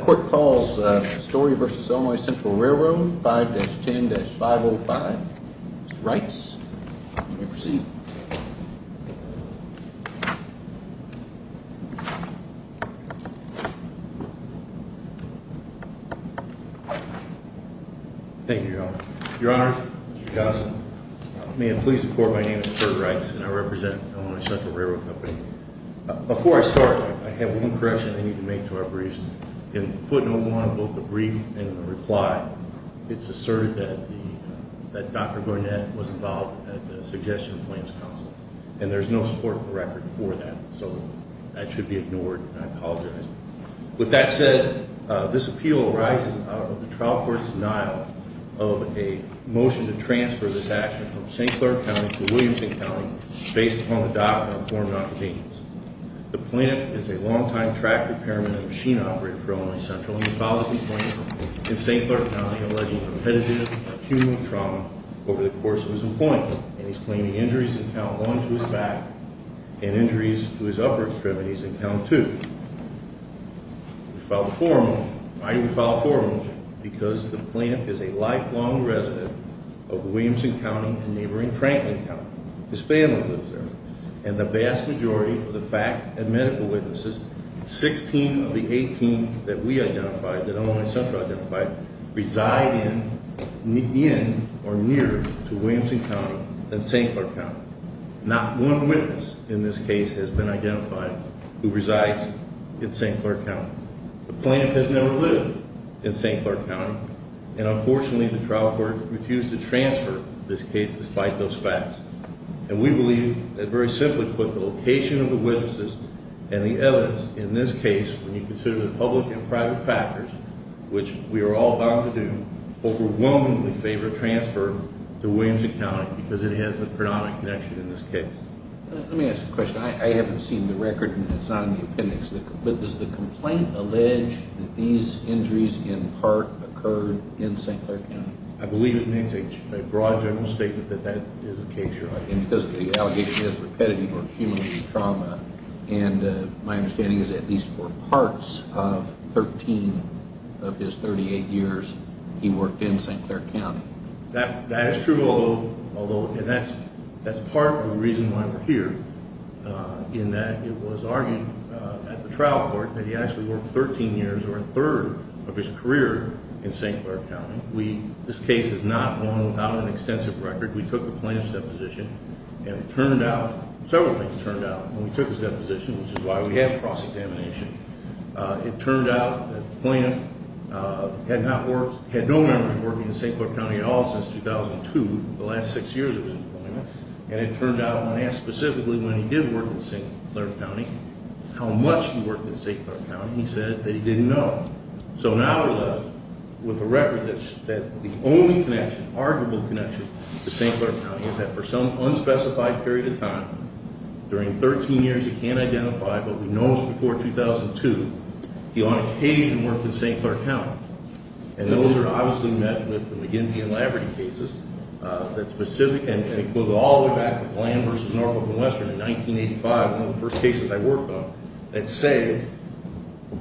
Court calls Story v. Illinois Central Railroad 5-10-505. Mr. Reitz, you may proceed. Thank you, Your Honor. Your Honor, Mr. Johnson, may I please report my name is Kurt Reitz and I represent Illinois Central Railroad Company. Before I start, I have one correction I need to make to our briefs. In footnote 1 of both the brief and the reply, it's asserted that Dr. Garnett was involved in the Suggestion Plans Council. And there's no support for record for that, so that should be ignored and I apologize. With that said, this appeal arises out of the trial court's denial of a motion to transfer this action from St. Clair County to Williamson County based upon the document of form and occupations. The plaintiff is a long-time track repairman and machine operator for Illinois Central and he filed a complaint in St. Clair County alleging competitive accumulative trauma over the course of his employment. And he's claiming injuries in count one to his back and injuries to his upper extremities in count two. We filed a formal, I think we filed a formal because the plaintiff is a lifelong resident of Williamson County and neighboring Franklin County. His family lives there and the vast majority of the fact and medical witnesses, 16 of the 18 that we identified, that Illinois Central identified, reside in or near to Williamson County and St. Clair County. Not one witness in this case has been identified who resides in St. Clair County. The plaintiff has never lived in St. Clair County and unfortunately the trial court refused to transfer this case despite those facts. And we believe that very simply put, the location of the witnesses and the evidence in this case when you consider the public and private factors, which we are all bound to do, overwhelmingly favor transfer to Williamson County because it has a predominant connection in this case. Let me ask a question. I haven't seen the record and it's not in the appendix, but does the complaint allege that these injuries in part occurred in St. Clair County? I believe it makes a broad general statement that that is the case, Your Honor. And because the allegation is repetitive accumulative trauma and my understanding is at least for parts of 13 of his 38 years he worked in St. Clair County. That is true, although, and that's part of the reason why we're here, in that it was argued at the trial court that he actually worked 13 years or a third of his career in St. Clair County. This case is not one without an extensive record. We took the plaintiff's deposition and it turned out, several things turned out when we took his deposition, which is why we have cross-examination. It turned out that the plaintiff had no memory of working in St. Clair County at all since 2002, the last six years of his employment. And it turned out, when asked specifically when he did work in St. Clair County, how much he worked in St. Clair County, he said that he didn't know. So now we're left with a record that the only connection, arguable connection, to St. Clair County is that for some unspecified period of time, during 13 years he can't identify, but we know it's before 2002, he on occasion worked in St. Clair County. And those are obviously met with the McGinty and Laverty cases, that specific, and it goes all the way back to Glam versus Norfolk and Western in 1985, one of the first cases I worked on, that say,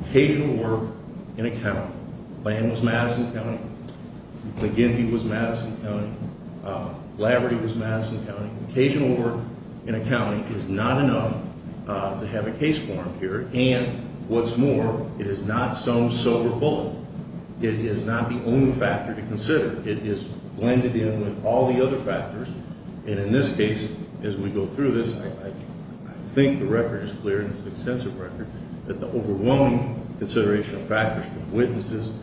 occasional work in a county, Glam was Madison County, McGinty was Madison County, Laverty was Madison County, occasional work in a county is not enough to have a case form here. And what's more, it is not some silver bullet, it is not the only factor to consider, it is blended in with all the other factors, and in this case, as we go through this, I think the record is clear, and it's an extensive record, that the overwhelming consideration of factors from witnesses,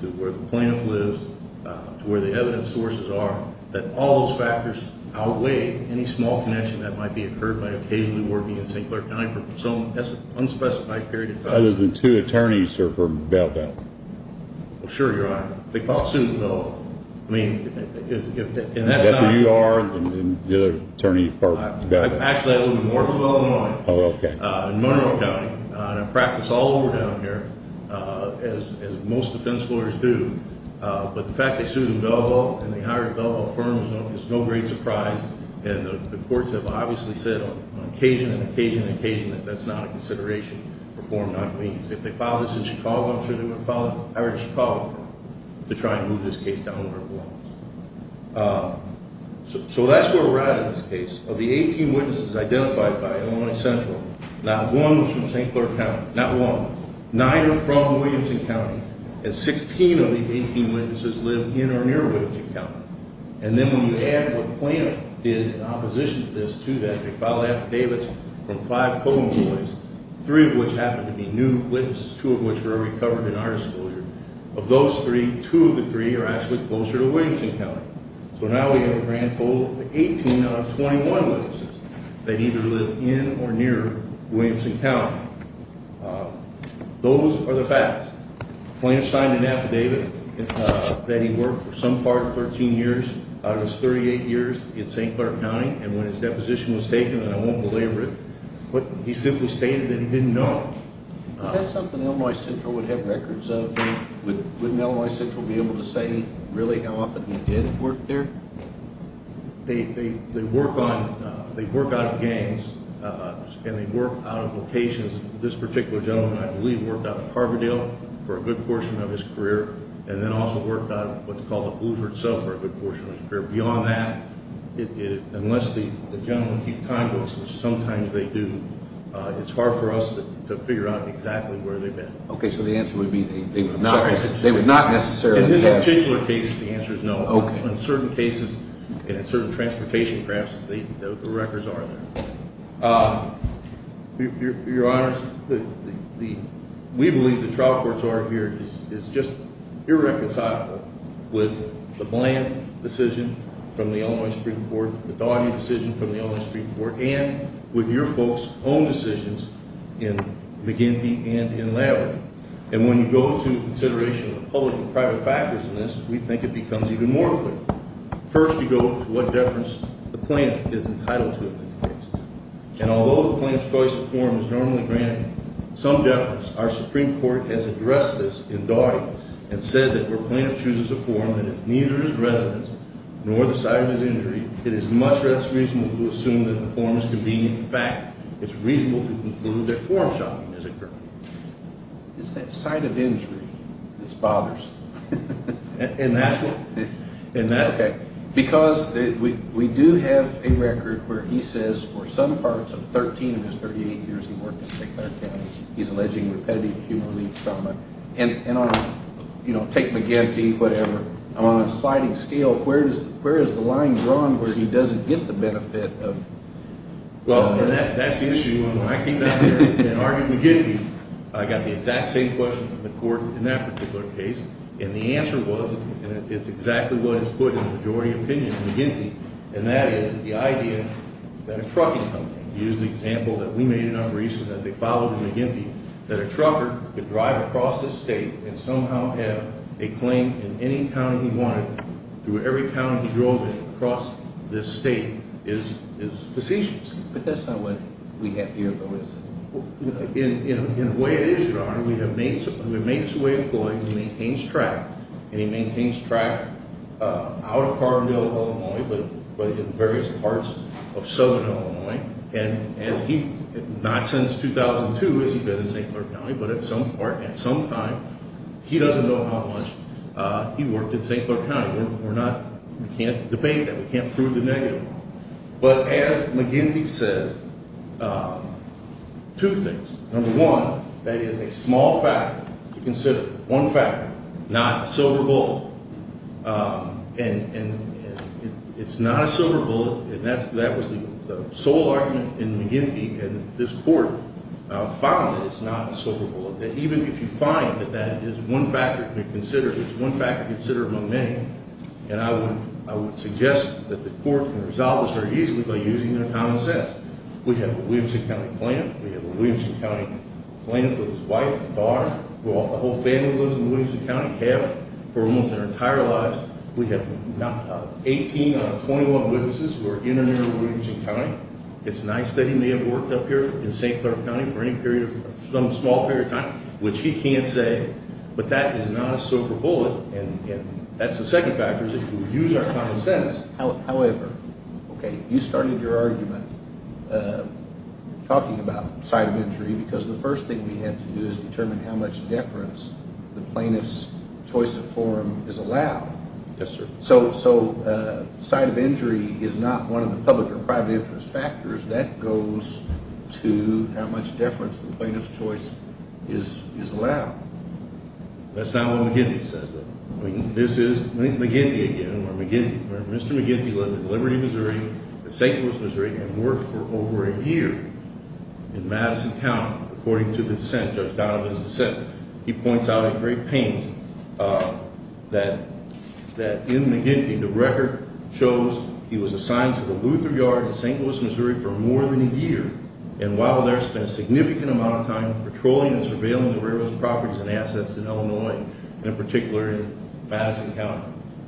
to where the plaintiff lives, to where the evidence sources are, that all those factors outweigh any small connection that might be incurred by occasionally working in St. Clair County for some unspecified period of time. The two attorneys are from Belleville? Sure, Your Honor, they fought suit in Belleville. Is that who you are, and the other attorney from Belleville? Actually, I live in Norfolk, Illinois, in Monroe County, and I practice all over down here, as most defense lawyers do, but the fact that they sued in Belleville, and they hired a Belleville firm is no great surprise, and the courts have obviously said on occasion, occasion, occasion, that that's not a consideration. If they filed this in Chicago, I'm sure they would have filed it with a Chicago firm, to try and move this case down where it belongs. So that's where we're at in this case, of the 18 witnesses identified by Illinois Central, not one from St. Clair County, not one, nine are from Williamson County, and 16 of these 18 witnesses live in or near Williamson County. And then when you add what Plano did in opposition to this, to that, they filed affidavits from five Oklahoma boys, three of which happened to be new witnesses, two of which were recovered in our disclosure. Of those three, two of the three are actually closer to Williamson County. So now we have a grand total of 18 out of 21 witnesses that either live in or near Williamson County. Those are the facts. Plano signed an affidavit that he worked for some part 13 years out of his 38 years in St. Clair County, and when his deposition was taken, and I won't belabor it, he simply stated that he didn't know. Is that something Illinois Central would have records of? Wouldn't Illinois Central be able to say really how often he did work there? They work out of gangs, and they work out of locations. This particular gentleman, I believe, worked out of Harbordale for a good portion of his career, and then also worked out of what's called the Blueford Cell for a good portion of his career. Beyond that, unless the gentleman keeps time, which sometimes they do, it's hard for us to figure out exactly where they've been. Okay, so the answer would be they would not necessarily. In this particular case, the answer is no. In certain cases, in certain transportation crafts, the records are there. Your Honors, we believe the trial courts are here. It's just irreconcilable with the Plano decision from the Illinois Supreme Court, the Daugherty decision from the Illinois Supreme Court, and with your folks' own decisions in McGinty and in Larry. And when you go to consideration of public and private factors in this, we think it becomes even more clear. First, you go to what deference the plaintiff is entitled to in this case. And although the plaintiff's choice of form is normally granted some deference, our Supreme Court has addressed this in Daugherty and said that where plaintiff chooses a form that is neither his residence nor the site of his injury, it is much less reasonable to assume that the form is convenient. In fact, it's reasonable to conclude that form shopping is occurring. It's that site of injury that's bothersome. And that's what? Okay, because we do have a record where he says for some parts of 13 of his 38 years he worked in St. Clair County, he's alleging repetitive human relief trauma. And on, you know, take McGinty, whatever. On a sliding scale, where is the line drawn where he doesn't get the benefit of? Well, that's the issue. When I came down here and argued McGinty, I got the exact same question from the court in that particular case, and the answer was, and it's exactly what is put in the majority opinion in McGinty, and that is the idea that a trucking company, use the example that we made in Unreason that they followed McGinty, that a trucker could drive across the state and somehow have a claim in any county he wanted through every county he drove in across this state is facetious. But that's not what we have here, though, is it? In a way it is, Your Honor. We have made some way of going and he maintains track, and he maintains track out of Carbondale, Illinois, but in various parts of southern Illinois. And as he, not since 2002 has he been in St. Clair County, but at some part, at some time, he doesn't know how much he worked in St. Clair County. We're not, we can't debate that. We can't prove the negative. But as McGinty says, two things. Number one, that is a small factor to consider, one factor, not a silver bullet. And it's not a silver bullet, and that was the sole argument in McGinty and this court found that it's not a silver bullet, that even if you find that that is one factor to consider, it's one factor to consider among many. And I would suggest that the court can resolve this very easily by using their common sense. We have a Williamson County plaintiff. We have a Williamson County plaintiff with his wife, daughter, the whole family lives in Williamson County, half, for almost their entire lives. We have 18 out of 21 witnesses who are in or near Williamson County. It's nice that he may have worked up here in St. Clair County for any period of, some small period of time, which he can't say, but that is not a silver bullet. And that's the second factor is if you use our common sense. However, okay, you started your argument talking about site of injury because the first thing we have to do is determine how much deference the plaintiff's choice of forum is allowed. Yes, sir. So site of injury is not one of the public or private interest factors. That goes to how much deference the plaintiff's choice is allowed. That's not what McGinty says, though. This is McGinty again, or McGinty. Mr. McGinty lived in Liberty, Missouri, St. Louis, Missouri, and worked for over a year in Madison County, according to the dissent, Judge Donovan's dissent. He points out in great pain that in McGinty, the record shows he was assigned to the Luther Yard in St. Louis, Missouri, for more than a year. And while there, spent a significant amount of time patrolling and surveilling the railroad's properties and assets in Illinois, and in particular in Madison County.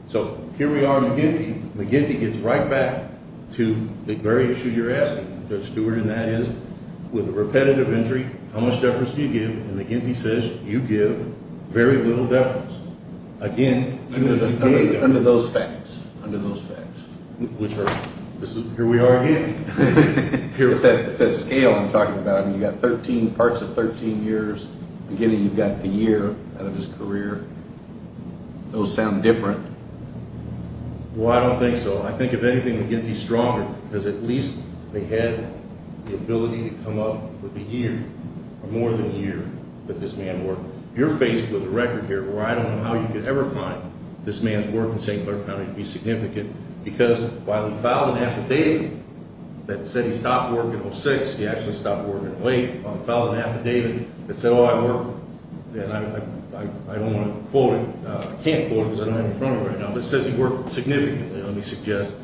So here we are in McGinty. McGinty gets right back to the very issue you're asking, Judge Stewart, and that is, with a repetitive injury, how much deference do you give? And McGinty says, you give very little deference. Again, you as a candidate. Under those facts. Under those facts. Which are, here we are again. It's that scale I'm talking about. I mean, you've got 13, parts of 13 years. Beginning, you've got a year out of his career. Those sound different. Well, I don't think so. I think if anything, McGinty's stronger, because at least they had the ability to come up with a year, or more than a year, that this man worked. You're faced with a record here where I don't know how you could ever find this man's work in St. Clair County to be significant. Because while he filed an affidavit that said he stopped working in 06, he actually stopped working in 08. While he filed an affidavit that said, oh, I work, and I don't want to quote it, I can't quote it because I don't have it in front of me right now. But it says he worked significantly, let me suggest,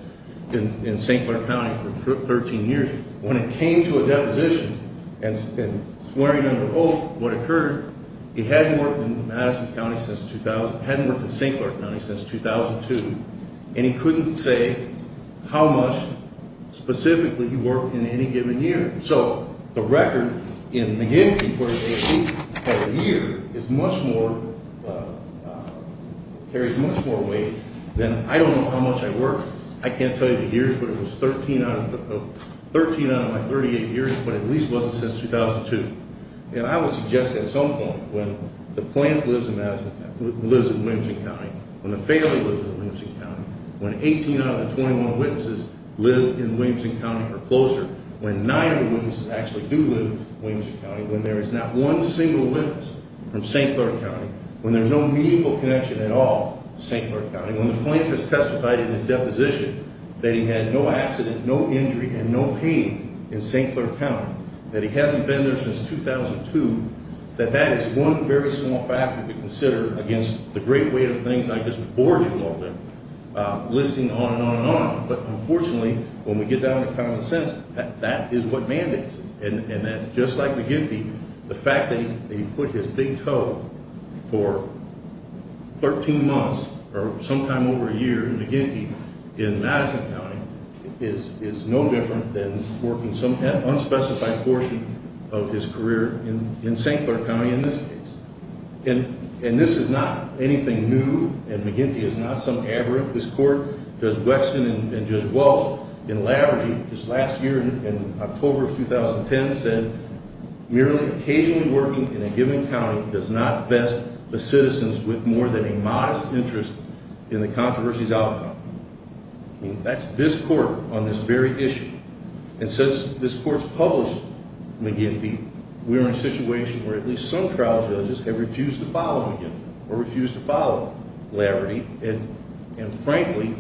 in St. Clair County for 13 years. When it came to a deposition, and swearing under oath, what occurred, he hadn't worked in Madison County since 2000, hadn't worked in St. Clair County since 2002. And he couldn't say how much, specifically, he worked in any given year. So, the record in McGinty for at least a year is much more, carries much more weight than, I don't know how much I worked. I can't tell you the years, but it was 13 out of my 38 years, but at least it wasn't since 2002. And I would suggest at some point, when the plant lives in Madison, lives in Williamson County, when the family lives in Williamson County, when 18 out of the 21 witnesses live in Williamson County or closer, when nine of the witnesses actually do live in Williamson County, when there is not one single witness from St. Clair County, when there's no meaningful connection at all to St. Clair County, when the plaintiff has testified in his deposition that he had no accident, no injury, and no pain in St. Clair County, that he hasn't been there since 2002, that that is one very small factor to consider against the great weight of things I just abhorred you all with. Listing on and on and on, but unfortunately, when we get down to common sense, that is what mandates it. And that, just like McGinty, the fact that he put his big toe for 13 months or sometime over a year, McGinty, in Madison County, is no different than working some unspecified portion of his career in St. Clair County in this case. And this is not anything new, and McGinty is not some aberrant. This court, Judge Wexton and Judge Walsh, in Laverty, just last year in October of 2010, said, merely occasionally working in a given county does not vest the citizens with more than a modest interest in the controversy's outcome. That's this court on this very issue. And since this court's published McGinty, we are in a situation where at least some trial judges have refused to follow McGinty or refused to follow Laverty. And frankly,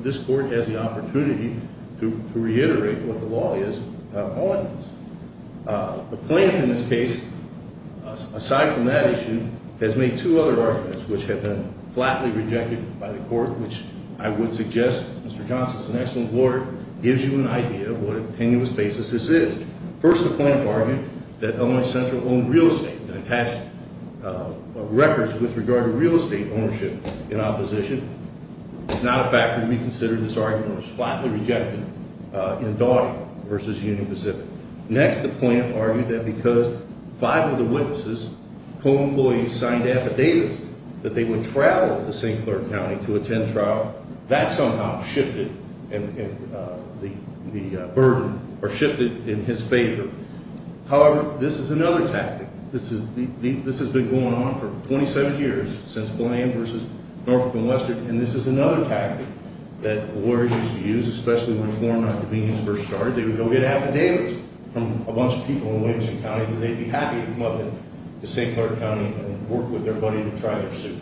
this court has the opportunity to reiterate what the law is on this. The plaintiff in this case, aside from that issue, has made two other arguments which have been flatly rejected by the court, which I would suggest, Mr. Johnson, as an excellent lawyer, gives you an idea of what a tenuous basis this is. First, the plaintiff argued that Illinois Central owned real estate and attached records with regard to real estate ownership in opposition. It's not a fact that we consider this argument was flatly rejected in Daugherty versus Union Pacific. Next, the plaintiff argued that because five of the witnesses co-employees signed affidavits that they would travel to St. Clair County to attend trial. That somehow shifted the burden or shifted in his favor. However, this is another tactic. This has been going on for 27 years, since Blaine versus Norfolk and Western. And this is another tactic that lawyers used to use, especially when a form of convenience first started. They would go get affidavits from a bunch of people in Williamson County, and they'd be happy to come up to St. Clair County and work with their buddy to try their suit.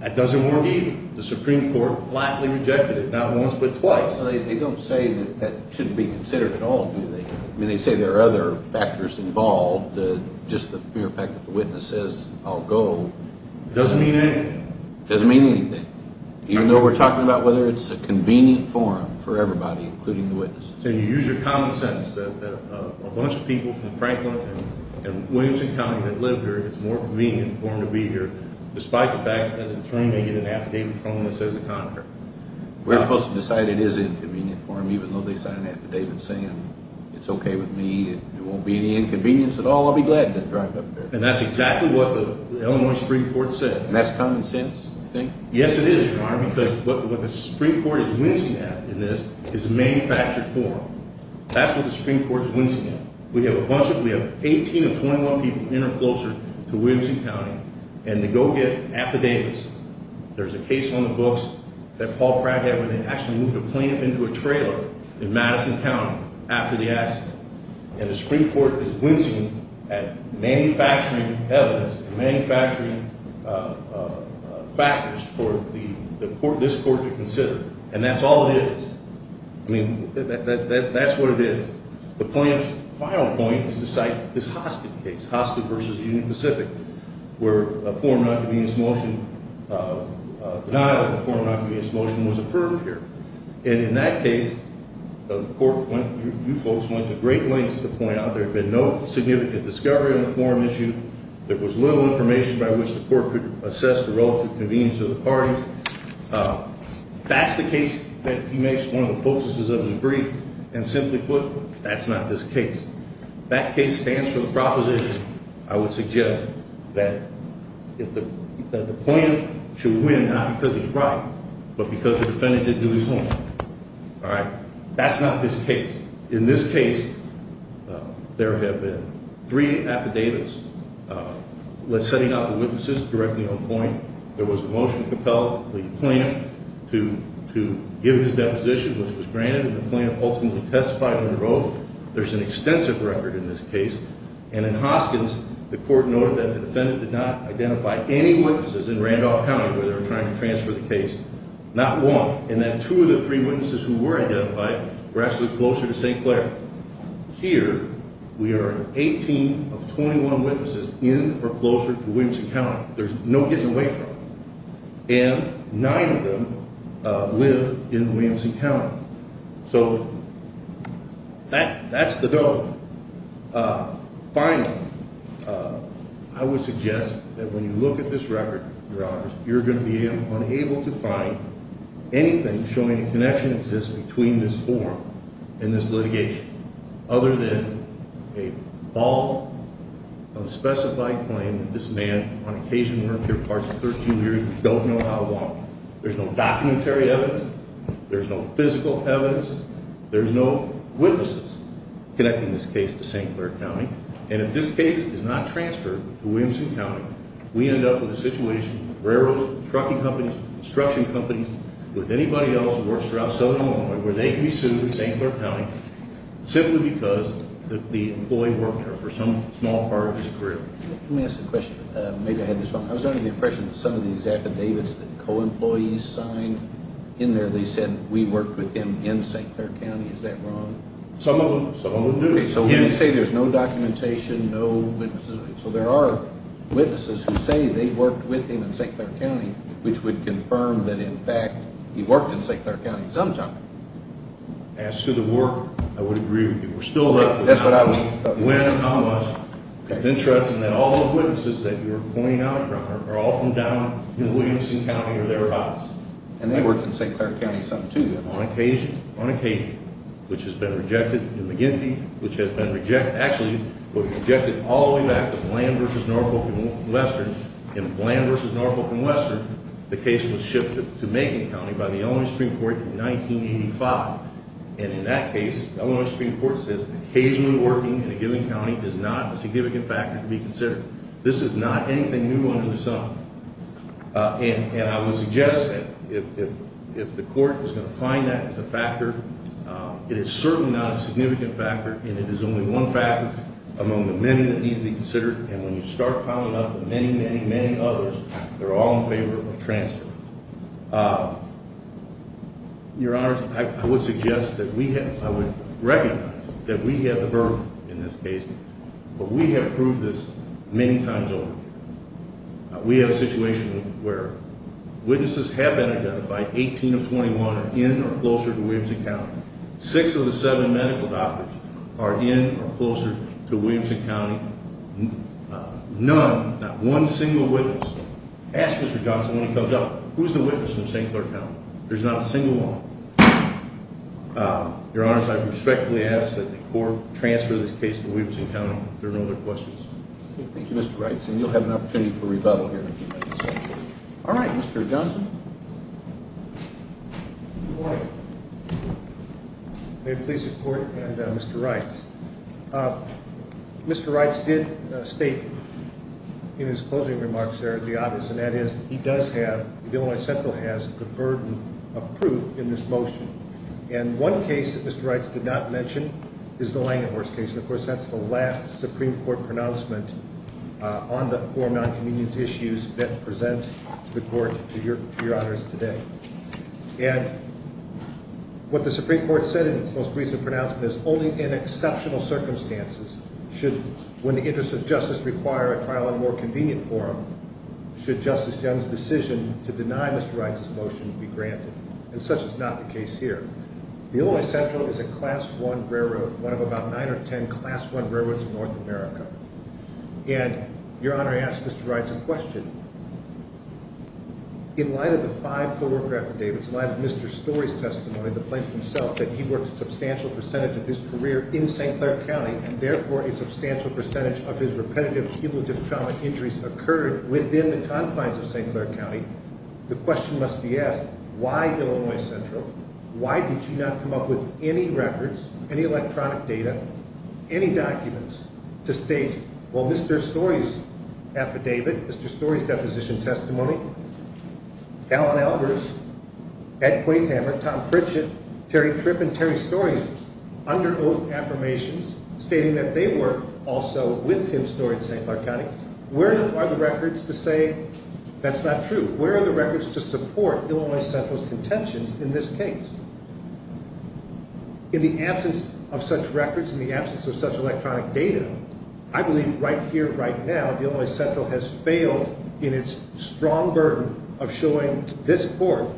That doesn't work either. The Supreme Court flatly rejected it, not once but twice. So they don't say that that shouldn't be considered at all, do they? I mean, they say there are other factors involved, just the mere fact that the witness says, I'll go. It doesn't mean anything. It doesn't mean anything, even though we're talking about whether it's a convenient forum for everybody, including the witnesses. And you use your common sense that a bunch of people from Franklin and Williamson County that live there, it's a more convenient forum to be here, despite the fact that an attorney may get an affidavit from them that says the contrary. We're supposed to decide it is an inconvenient forum, even though they sign an affidavit saying it's okay with me, it won't be any inconvenience at all, I'll be glad to drive up there. And that's exactly what the Illinois Supreme Court said. And that's common sense, you think? Yes, it is, Your Honor, because what the Supreme Court is wincing at in this is a manufactured forum. That's what the Supreme Court is wincing at. We have 18 of 21 people in or closer to Williamson County, and they go get affidavits. There's a case on the books that Paul Craig had where they actually moved a plaintiff into a trailer in Madison County after the accident. And the Supreme Court is wincing at manufacturing evidence, manufacturing factors for this court to consider. And that's all it is. I mean, that's what it is. The plaintiff's final point is to cite this Hostick case, Hostick v. Union Pacific, where a form of nonconvenience motion, denial of a form of nonconvenience motion was affirmed here. And in that case, the court went to great lengths to point out there had been no significant discovery on the form issue. There was little information by which the court could assess the relative convenience of the parties. That's the case that he makes one of the focuses of his brief, and simply put, that's not this case. That case stands for the proposition, I would suggest, that the plaintiff should win not because he's right, but because the defendant didn't do his homework. All right, that's not this case. In this case, there have been three affidavits setting out the witnesses directly on point. There was a motion to compel the plaintiff to give his deposition, which was granted, and the plaintiff ultimately testified under oath. There's an extensive record in this case. And in Hoskins, the court noted that the defendant did not identify any witnesses in Randolph County where they were trying to transfer the case, not one, and that two of the three witnesses who were identified were actually closer to St. Clair. Here, we are 18 of 21 witnesses in or closer to Williamson County. There's no getting away from it. And nine of them live in Williamson County. So that's the doughnut. Finally, I would suggest that when you look at this record, Your Honors, you're going to be unable to find anything showing a connection exists between this form and this litigation, other than a ball of a specified claim that this man on occasion worked here parts of 13 years and don't know how long. There's no documentary evidence. There's no physical evidence. There's no witnesses connecting this case to St. Clair County. And if this case is not transferred to Williamson County, we end up with a situation, railroads, trucking companies, construction companies, with anybody else who works throughout southern Illinois, where they can be sued in St. Clair County simply because the employee worked there for some small part of his career. Let me ask a question. Maybe I had this wrong. I was under the impression that some of these affidavits that co-employees signed in there, they said, we worked with him in St. Clair County. Is that wrong? Some of them. Some of them do. So when you say there's no documentation, no witnesses, so there are witnesses who say they worked with him in St. Clair County, which would confirm that, in fact, he worked in St. Clair County sometime. As to the work, I would agree with you. We're still looking. That's what I was talking about. When and how much. It's interesting that all those witnesses that you're pointing out, Robert, are all from down in Williamson County or thereabouts. And they worked in St. Clair County sometime too, then. On occasion, on occasion, which has been rejected in McGinty, which has been rejected, actually, was rejected all the way back to Bland v. Norfolk and Western. In Bland v. Norfolk and Western, the case was shifted to Macon County by the Illinois Supreme Court in 1985. And in that case, the Illinois Supreme Court says occasionally working in a given county is not a significant factor to be considered. This is not anything new under the sun. And I would suggest that if the court is going to find that as a factor, it is certainly not a significant factor, and it is only one factor among the many that need to be considered. And when you start piling up the many, many, many others, they're all in favor of transfer. Your Honors, I would suggest that we have, I would recognize that we have the burden in this case, but we have proved this many times over. We have a situation where witnesses have been identified, 18 of 21 are in or closer to Williamson County. Six of the seven medical doctors are in or closer to Williamson County. None, not one single witness. Ask Mr. Johnson when he comes out, who's the witness in St. Clair County? There's not a single one. Your Honors, I respectfully ask that the court transfer this case to Williamson County. If there are no other questions. Thank you, Mr. Reitz. And you'll have an opportunity for rebuttal here in a few minutes. All right, Mr. Johnson. Good morning. May it please the Court and Mr. Reitz. Mr. Reitz did state in his closing remarks there the obvious, and that is he does have, the Illinois Central has the burden of proof in this motion. And one case that Mr. Reitz did not mention is the Langhorst case. And, of course, that's the last Supreme Court pronouncement on the four non-convenience issues that present the Court to Your Honors today. And what the Supreme Court said in its most recent pronouncement is only in exceptional circumstances should, when the interests of justice require a trial in a more convenient forum, should Justice Young's decision to deny Mr. Reitz's motion be granted. And such is not the case here. The Illinois Central is a Class I railroad, one of about nine or ten Class I railroads in North America. And Your Honor, I ask Mr. Reitz a question. In light of the five co-worker affidavits, in light of Mr. Story's testimony, the plaintiff himself, that he worked a substantial percentage of his career in St. Clair County, and therefore a substantial percentage of his repetitive cumulative trauma injuries occurred within the confines of St. Clair County, the question must be asked, why Illinois Central? Why did you not come up with any records, any electronic data, any documents to state, well, Mr. Story's affidavit, Mr. Story's deposition testimony, Alan Albers, Ed Quayhammer, Tom Pritchett, Terry Tripp, and Terry Story's under oath affirmations, stating that they worked also with Tim Story in St. Clair County, where are the records to say that's not true? Where are the records to support Illinois Central's contentions in this case? In the absence of such records, in the absence of such electronic data, I believe right here, right now, Illinois Central has failed in its strong burden of showing this court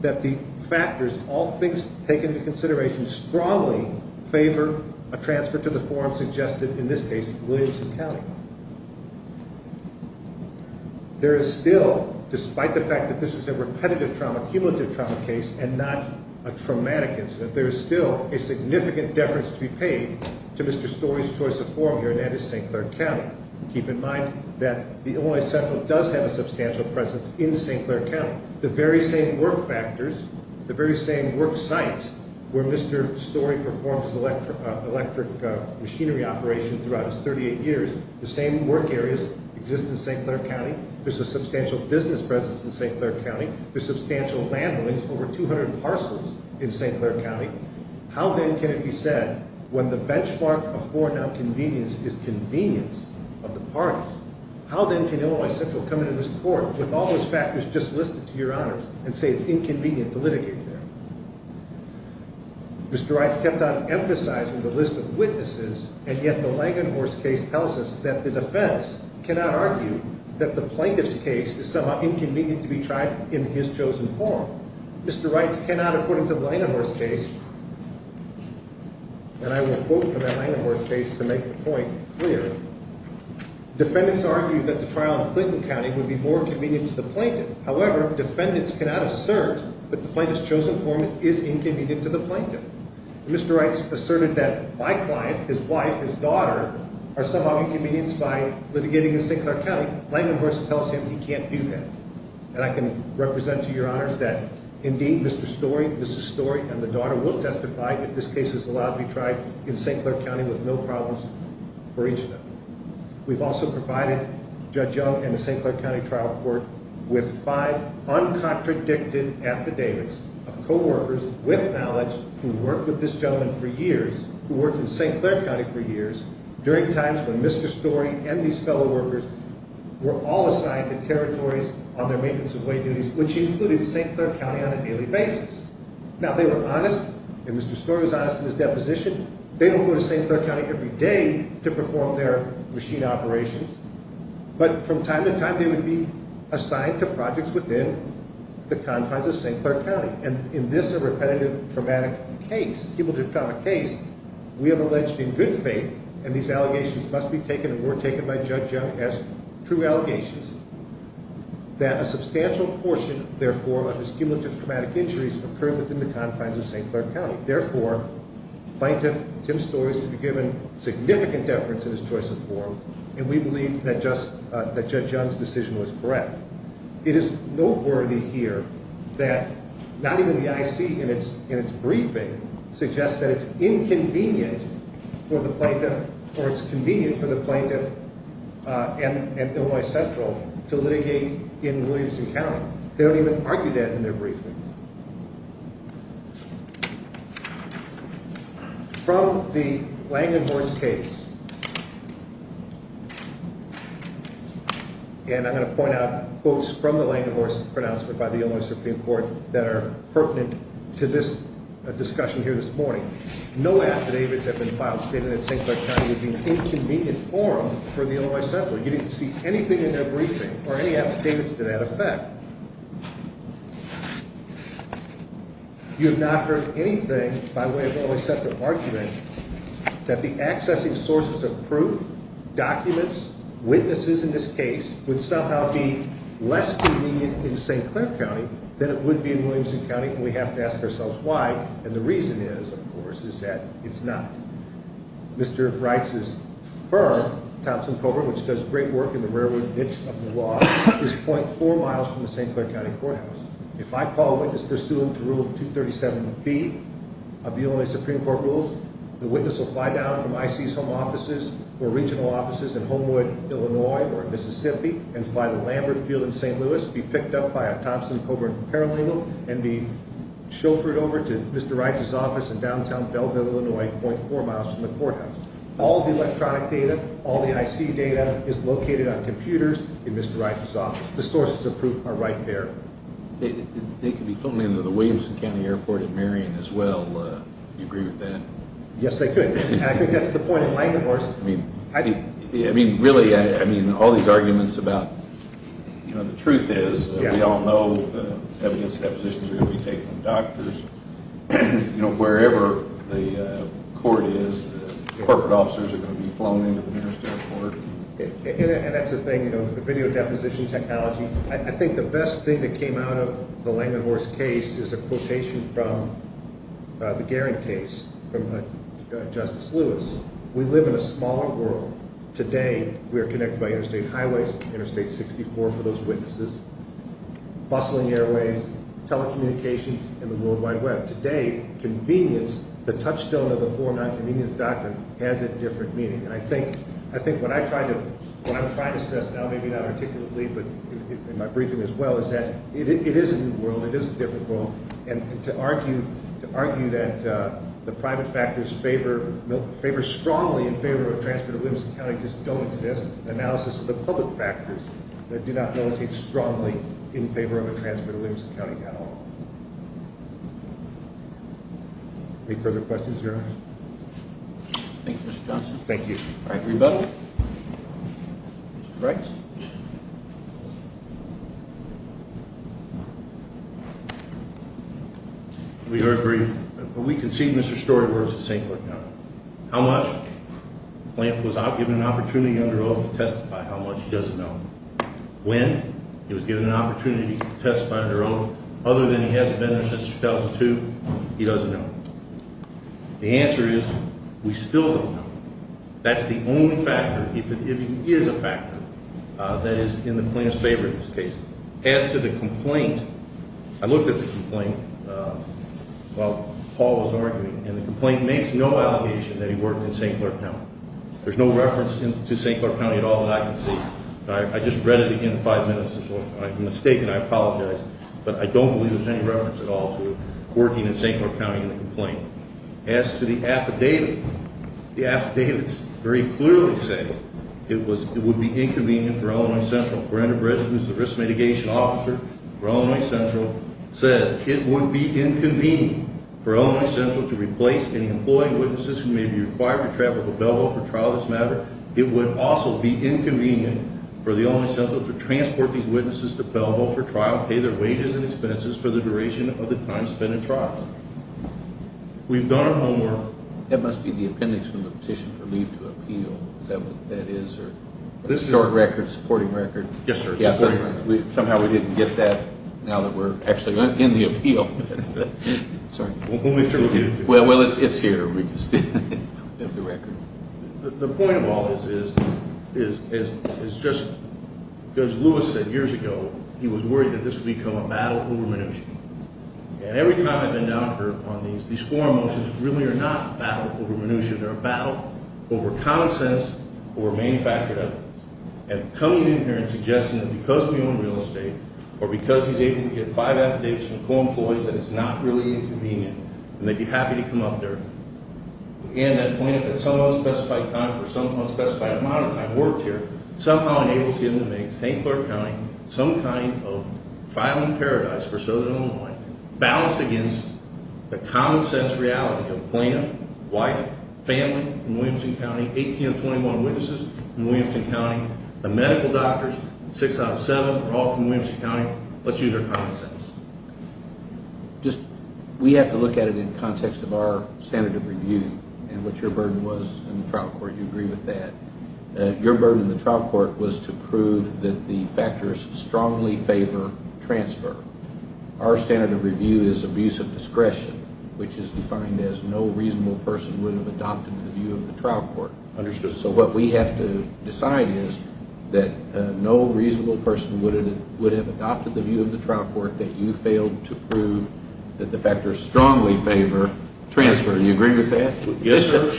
that the factors, all things taken into consideration, strongly favor a transfer to the forum suggested, in this case, Williamson County. There is still, despite the fact that this is a repetitive trauma, cumulative trauma case, and not a traumatic incident, there is still a significant deference to be paid to Mr. Story's choice of forum here, and that is St. Clair County. Keep in mind that Illinois Central does have a substantial presence in St. Clair County. The very same work factors, the very same work sites, where Mr. Story performed his electric machinery operation throughout his 38 years, the same work areas exist in St. Clair County. There's a substantial business presence in St. Clair County. There's substantial landownings, over 200 parcels in St. Clair County. How then can it be said when the benchmark for non-convenience is convenience of the parties? How then can Illinois Central come into this court with all those factors just listed to your honors and say it's inconvenient to litigate there? Mr. Wright's kept on emphasizing the list of witnesses, and yet the Langenhorst case tells us that the defense cannot argue that the plaintiff's case is somehow inconvenient to be tried in his chosen forum. Mr. Wright's cannot, according to the Langenhorst case, and I will quote from that Langenhorst case to make the point clear, defendants argued that the trial in Clinton County would be more convenient to the plaintiff. However, defendants cannot assert that the plaintiff's chosen forum is inconvenient to the plaintiff. Mr. Wright's asserted that my client, his wife, his daughter, are somehow inconvenienced by litigating in St. Clair County. Langenhorst tells him he can't do that. And I can represent to your honors that indeed, Mr. Story, Mrs. Story, and the daughter will testify if this case is allowed to be tried in St. Clair County with no problems for each of them. We've also provided Judge Young and the St. Clair County Trial Court with five uncontradicted affidavits of coworkers with knowledge who worked with this gentleman for years, who worked in St. Clair County for years, during times when Mr. Story and these fellow workers were all assigned to territories on their maintenance of weight duties, which included St. Clair County on a daily basis. Now, they were honest, and Mr. Story was honest in his deposition. They don't go to St. Clair County every day to perform their machine operations, but from time to time they would be assigned to projects within the confines of St. Clair County. And in this repetitive traumatic case, cumulative traumatic case, we have alleged in good faith, and these allegations must be taken, and were taken by Judge Young as true allegations, that a substantial portion, therefore, of his cumulative traumatic injuries occurred within the confines of St. Clair County. Therefore, Plaintiff Tim Story is to be given significant deference in his choice of forum, and we believe that Judge Young's decision was correct. It is noteworthy here that not even the IC in its briefing suggests that it's inconvenient for the plaintiff, or it's convenient for the plaintiff and Illinois Central to litigate in Williamson County. They don't even argue that in their briefing. From the Langenhorst case, and I'm going to point out quotes from the Langenhorst pronouncement by the Illinois Supreme Court that are pertinent to this discussion here this morning. No affidavits have been filed stated that St. Clair County would be an inconvenient forum for the Illinois Central. You didn't see anything in their briefing or any affidavits to that effect. You have not heard anything by way of an Illinois Central argument that the accessing sources of proof, documents, witnesses in this case, would somehow be less convenient in St. Clair County than it would be in Williamson County, and we have to ask ourselves why, and the reason is, of course, is that it's not. Mr. Reitz's firm, Thompson Coburn, which does great work in the railroad niche of the law, is .4 miles from the St. Clair County courthouse. If I call a witness pursuant to Rule 237B of the Illinois Supreme Court rules, the witness will fly down from IC's home offices or regional offices in Homewood, Illinois or Mississippi and fly to Lambert Field in St. Louis, be picked up by a Thompson Coburn paralegal, and be chauffeured over to Mr. Reitz's office in downtown Belleville, Illinois, .4 miles from the courthouse. All the electronic data, all the IC data is located on computers in Mr. Reitz's office. The sources of proof are right there. They could be flown into the Williamson County Airport in Marion as well. Do you agree with that? Yes, they could, and I think that's the point in my divorce. I mean, really, all these arguments about, you know, the truth is we all know evidence depositions are going to be taken from doctors. You know, wherever the court is, corporate officers are going to be flown into the nearest airport. And that's the thing, you know, with the video deposition technology, I think the best thing that came out of the Langenhorst case is a quotation from the Garing case from Justice Lewis. We live in a smaller world. Today, we are connected by interstate highways, Interstate 64 for those witnesses, bustling airways, telecommunications, and the World Wide Web. Today, convenience, the touchstone of the four non-convenience doctrine, has a different meaning. And I think what I'm trying to stress now, maybe not articulately, but in my briefing as well, is that it is a new world, it is a different world. And to argue that the private factors favor strongly in favor of a transfer to Williamson County just don't exist. Analysis of the public factors that do not militate strongly in favor of a transfer to Williamson County at all. Any further questions, Your Honor? Thank you, Mr. Johnson. Thank you. All right, everybody. Mr. Wright. We are brief, but we can see Mr. Storyworth at St. Clair County. How much? When he was given an opportunity under oath to testify, how much? He doesn't know. When? He was given an opportunity to testify under oath. Other than he hasn't been there since 2002, he doesn't know. The answer is, we still don't know. That's the only factor, if it is a factor, that is in the plaintiff's favor in this case. As to the complaint, I looked at the complaint while Paul was arguing, and the complaint makes no allegation that he worked in St. Clair County. There's no reference to St. Clair County at all that I can see. I just read it in five minutes, and I'm mistaken, I apologize. But I don't believe there's any reference at all to working in St. Clair County in the complaint. As to the affidavit, the affidavits very clearly say it would be inconvenient for Illinois Central. Brenda Britt, who's the risk mitigation officer for Illinois Central, says, It would be inconvenient for Illinois Central to replace any employee witnesses who may be required to travel to Belleville for trial in this matter. It would also be inconvenient for Illinois Central to transport these witnesses to Belleville for trial, pay their wages and expenses for the duration of the time spent in trial. We've done our homework. That must be the appendix from the petition for leave to appeal. Is that what that is? A short record, a supporting record? Yes, sir, a supporting record. Somehow we didn't get that, now that we're actually in the appeal. Sorry. Well, it's here. The point of all this is just, as Louis said years ago, he was worried that this would become a battle over minutia. And every time I've been down here on these, these forum motions really are not a battle over minutia. They're a battle over common sense, over manufactured evidence. And coming in here and suggesting that because we own real estate, or because he's able to get five affidavits from co-employees, that it's not really inconvenient, and they'd be happy to come up there, and that plaintiff had some unspecified time for some unspecified amount of time worked here, somehow enables him to make St. Clair County some kind of filing paradise for Southern Illinois, balanced against the common sense reality of plaintiff, wife, family in Williamson County, 18 of 21 witnesses in Williamson County, the medical doctors, six out of seven are all from Williamson County. Let's use our common sense. Just, we have to look at it in context of our standard of review and what your burden was in the trial court. Do you agree with that? Your burden in the trial court was to prove that the factors strongly favor transfer. Our standard of review is abuse of discretion, which is defined as no reasonable person would have adopted the view of the trial court. Understood. So what we have to decide is that no reasonable person would have adopted the view of the trial court that you failed to prove that the factors strongly favor transfer. Do you agree with that? Yes, sir.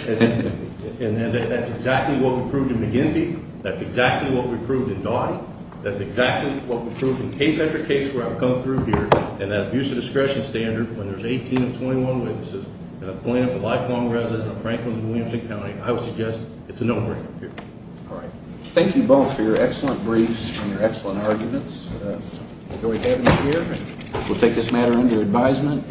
And that's exactly what we proved in McGinty. That's exactly what we proved in Dottie. That's exactly what we proved in case after case where I've come through here. And that abuse of discretion standard when there's 18 of 21 witnesses and a plaintiff, a lifelong resident of Franklin and Williamson County, I would suggest it's a no-brainer. All right. Thank you both for your excellent briefs and your excellent arguments. I enjoyed having you here. We'll take this matter under advisement.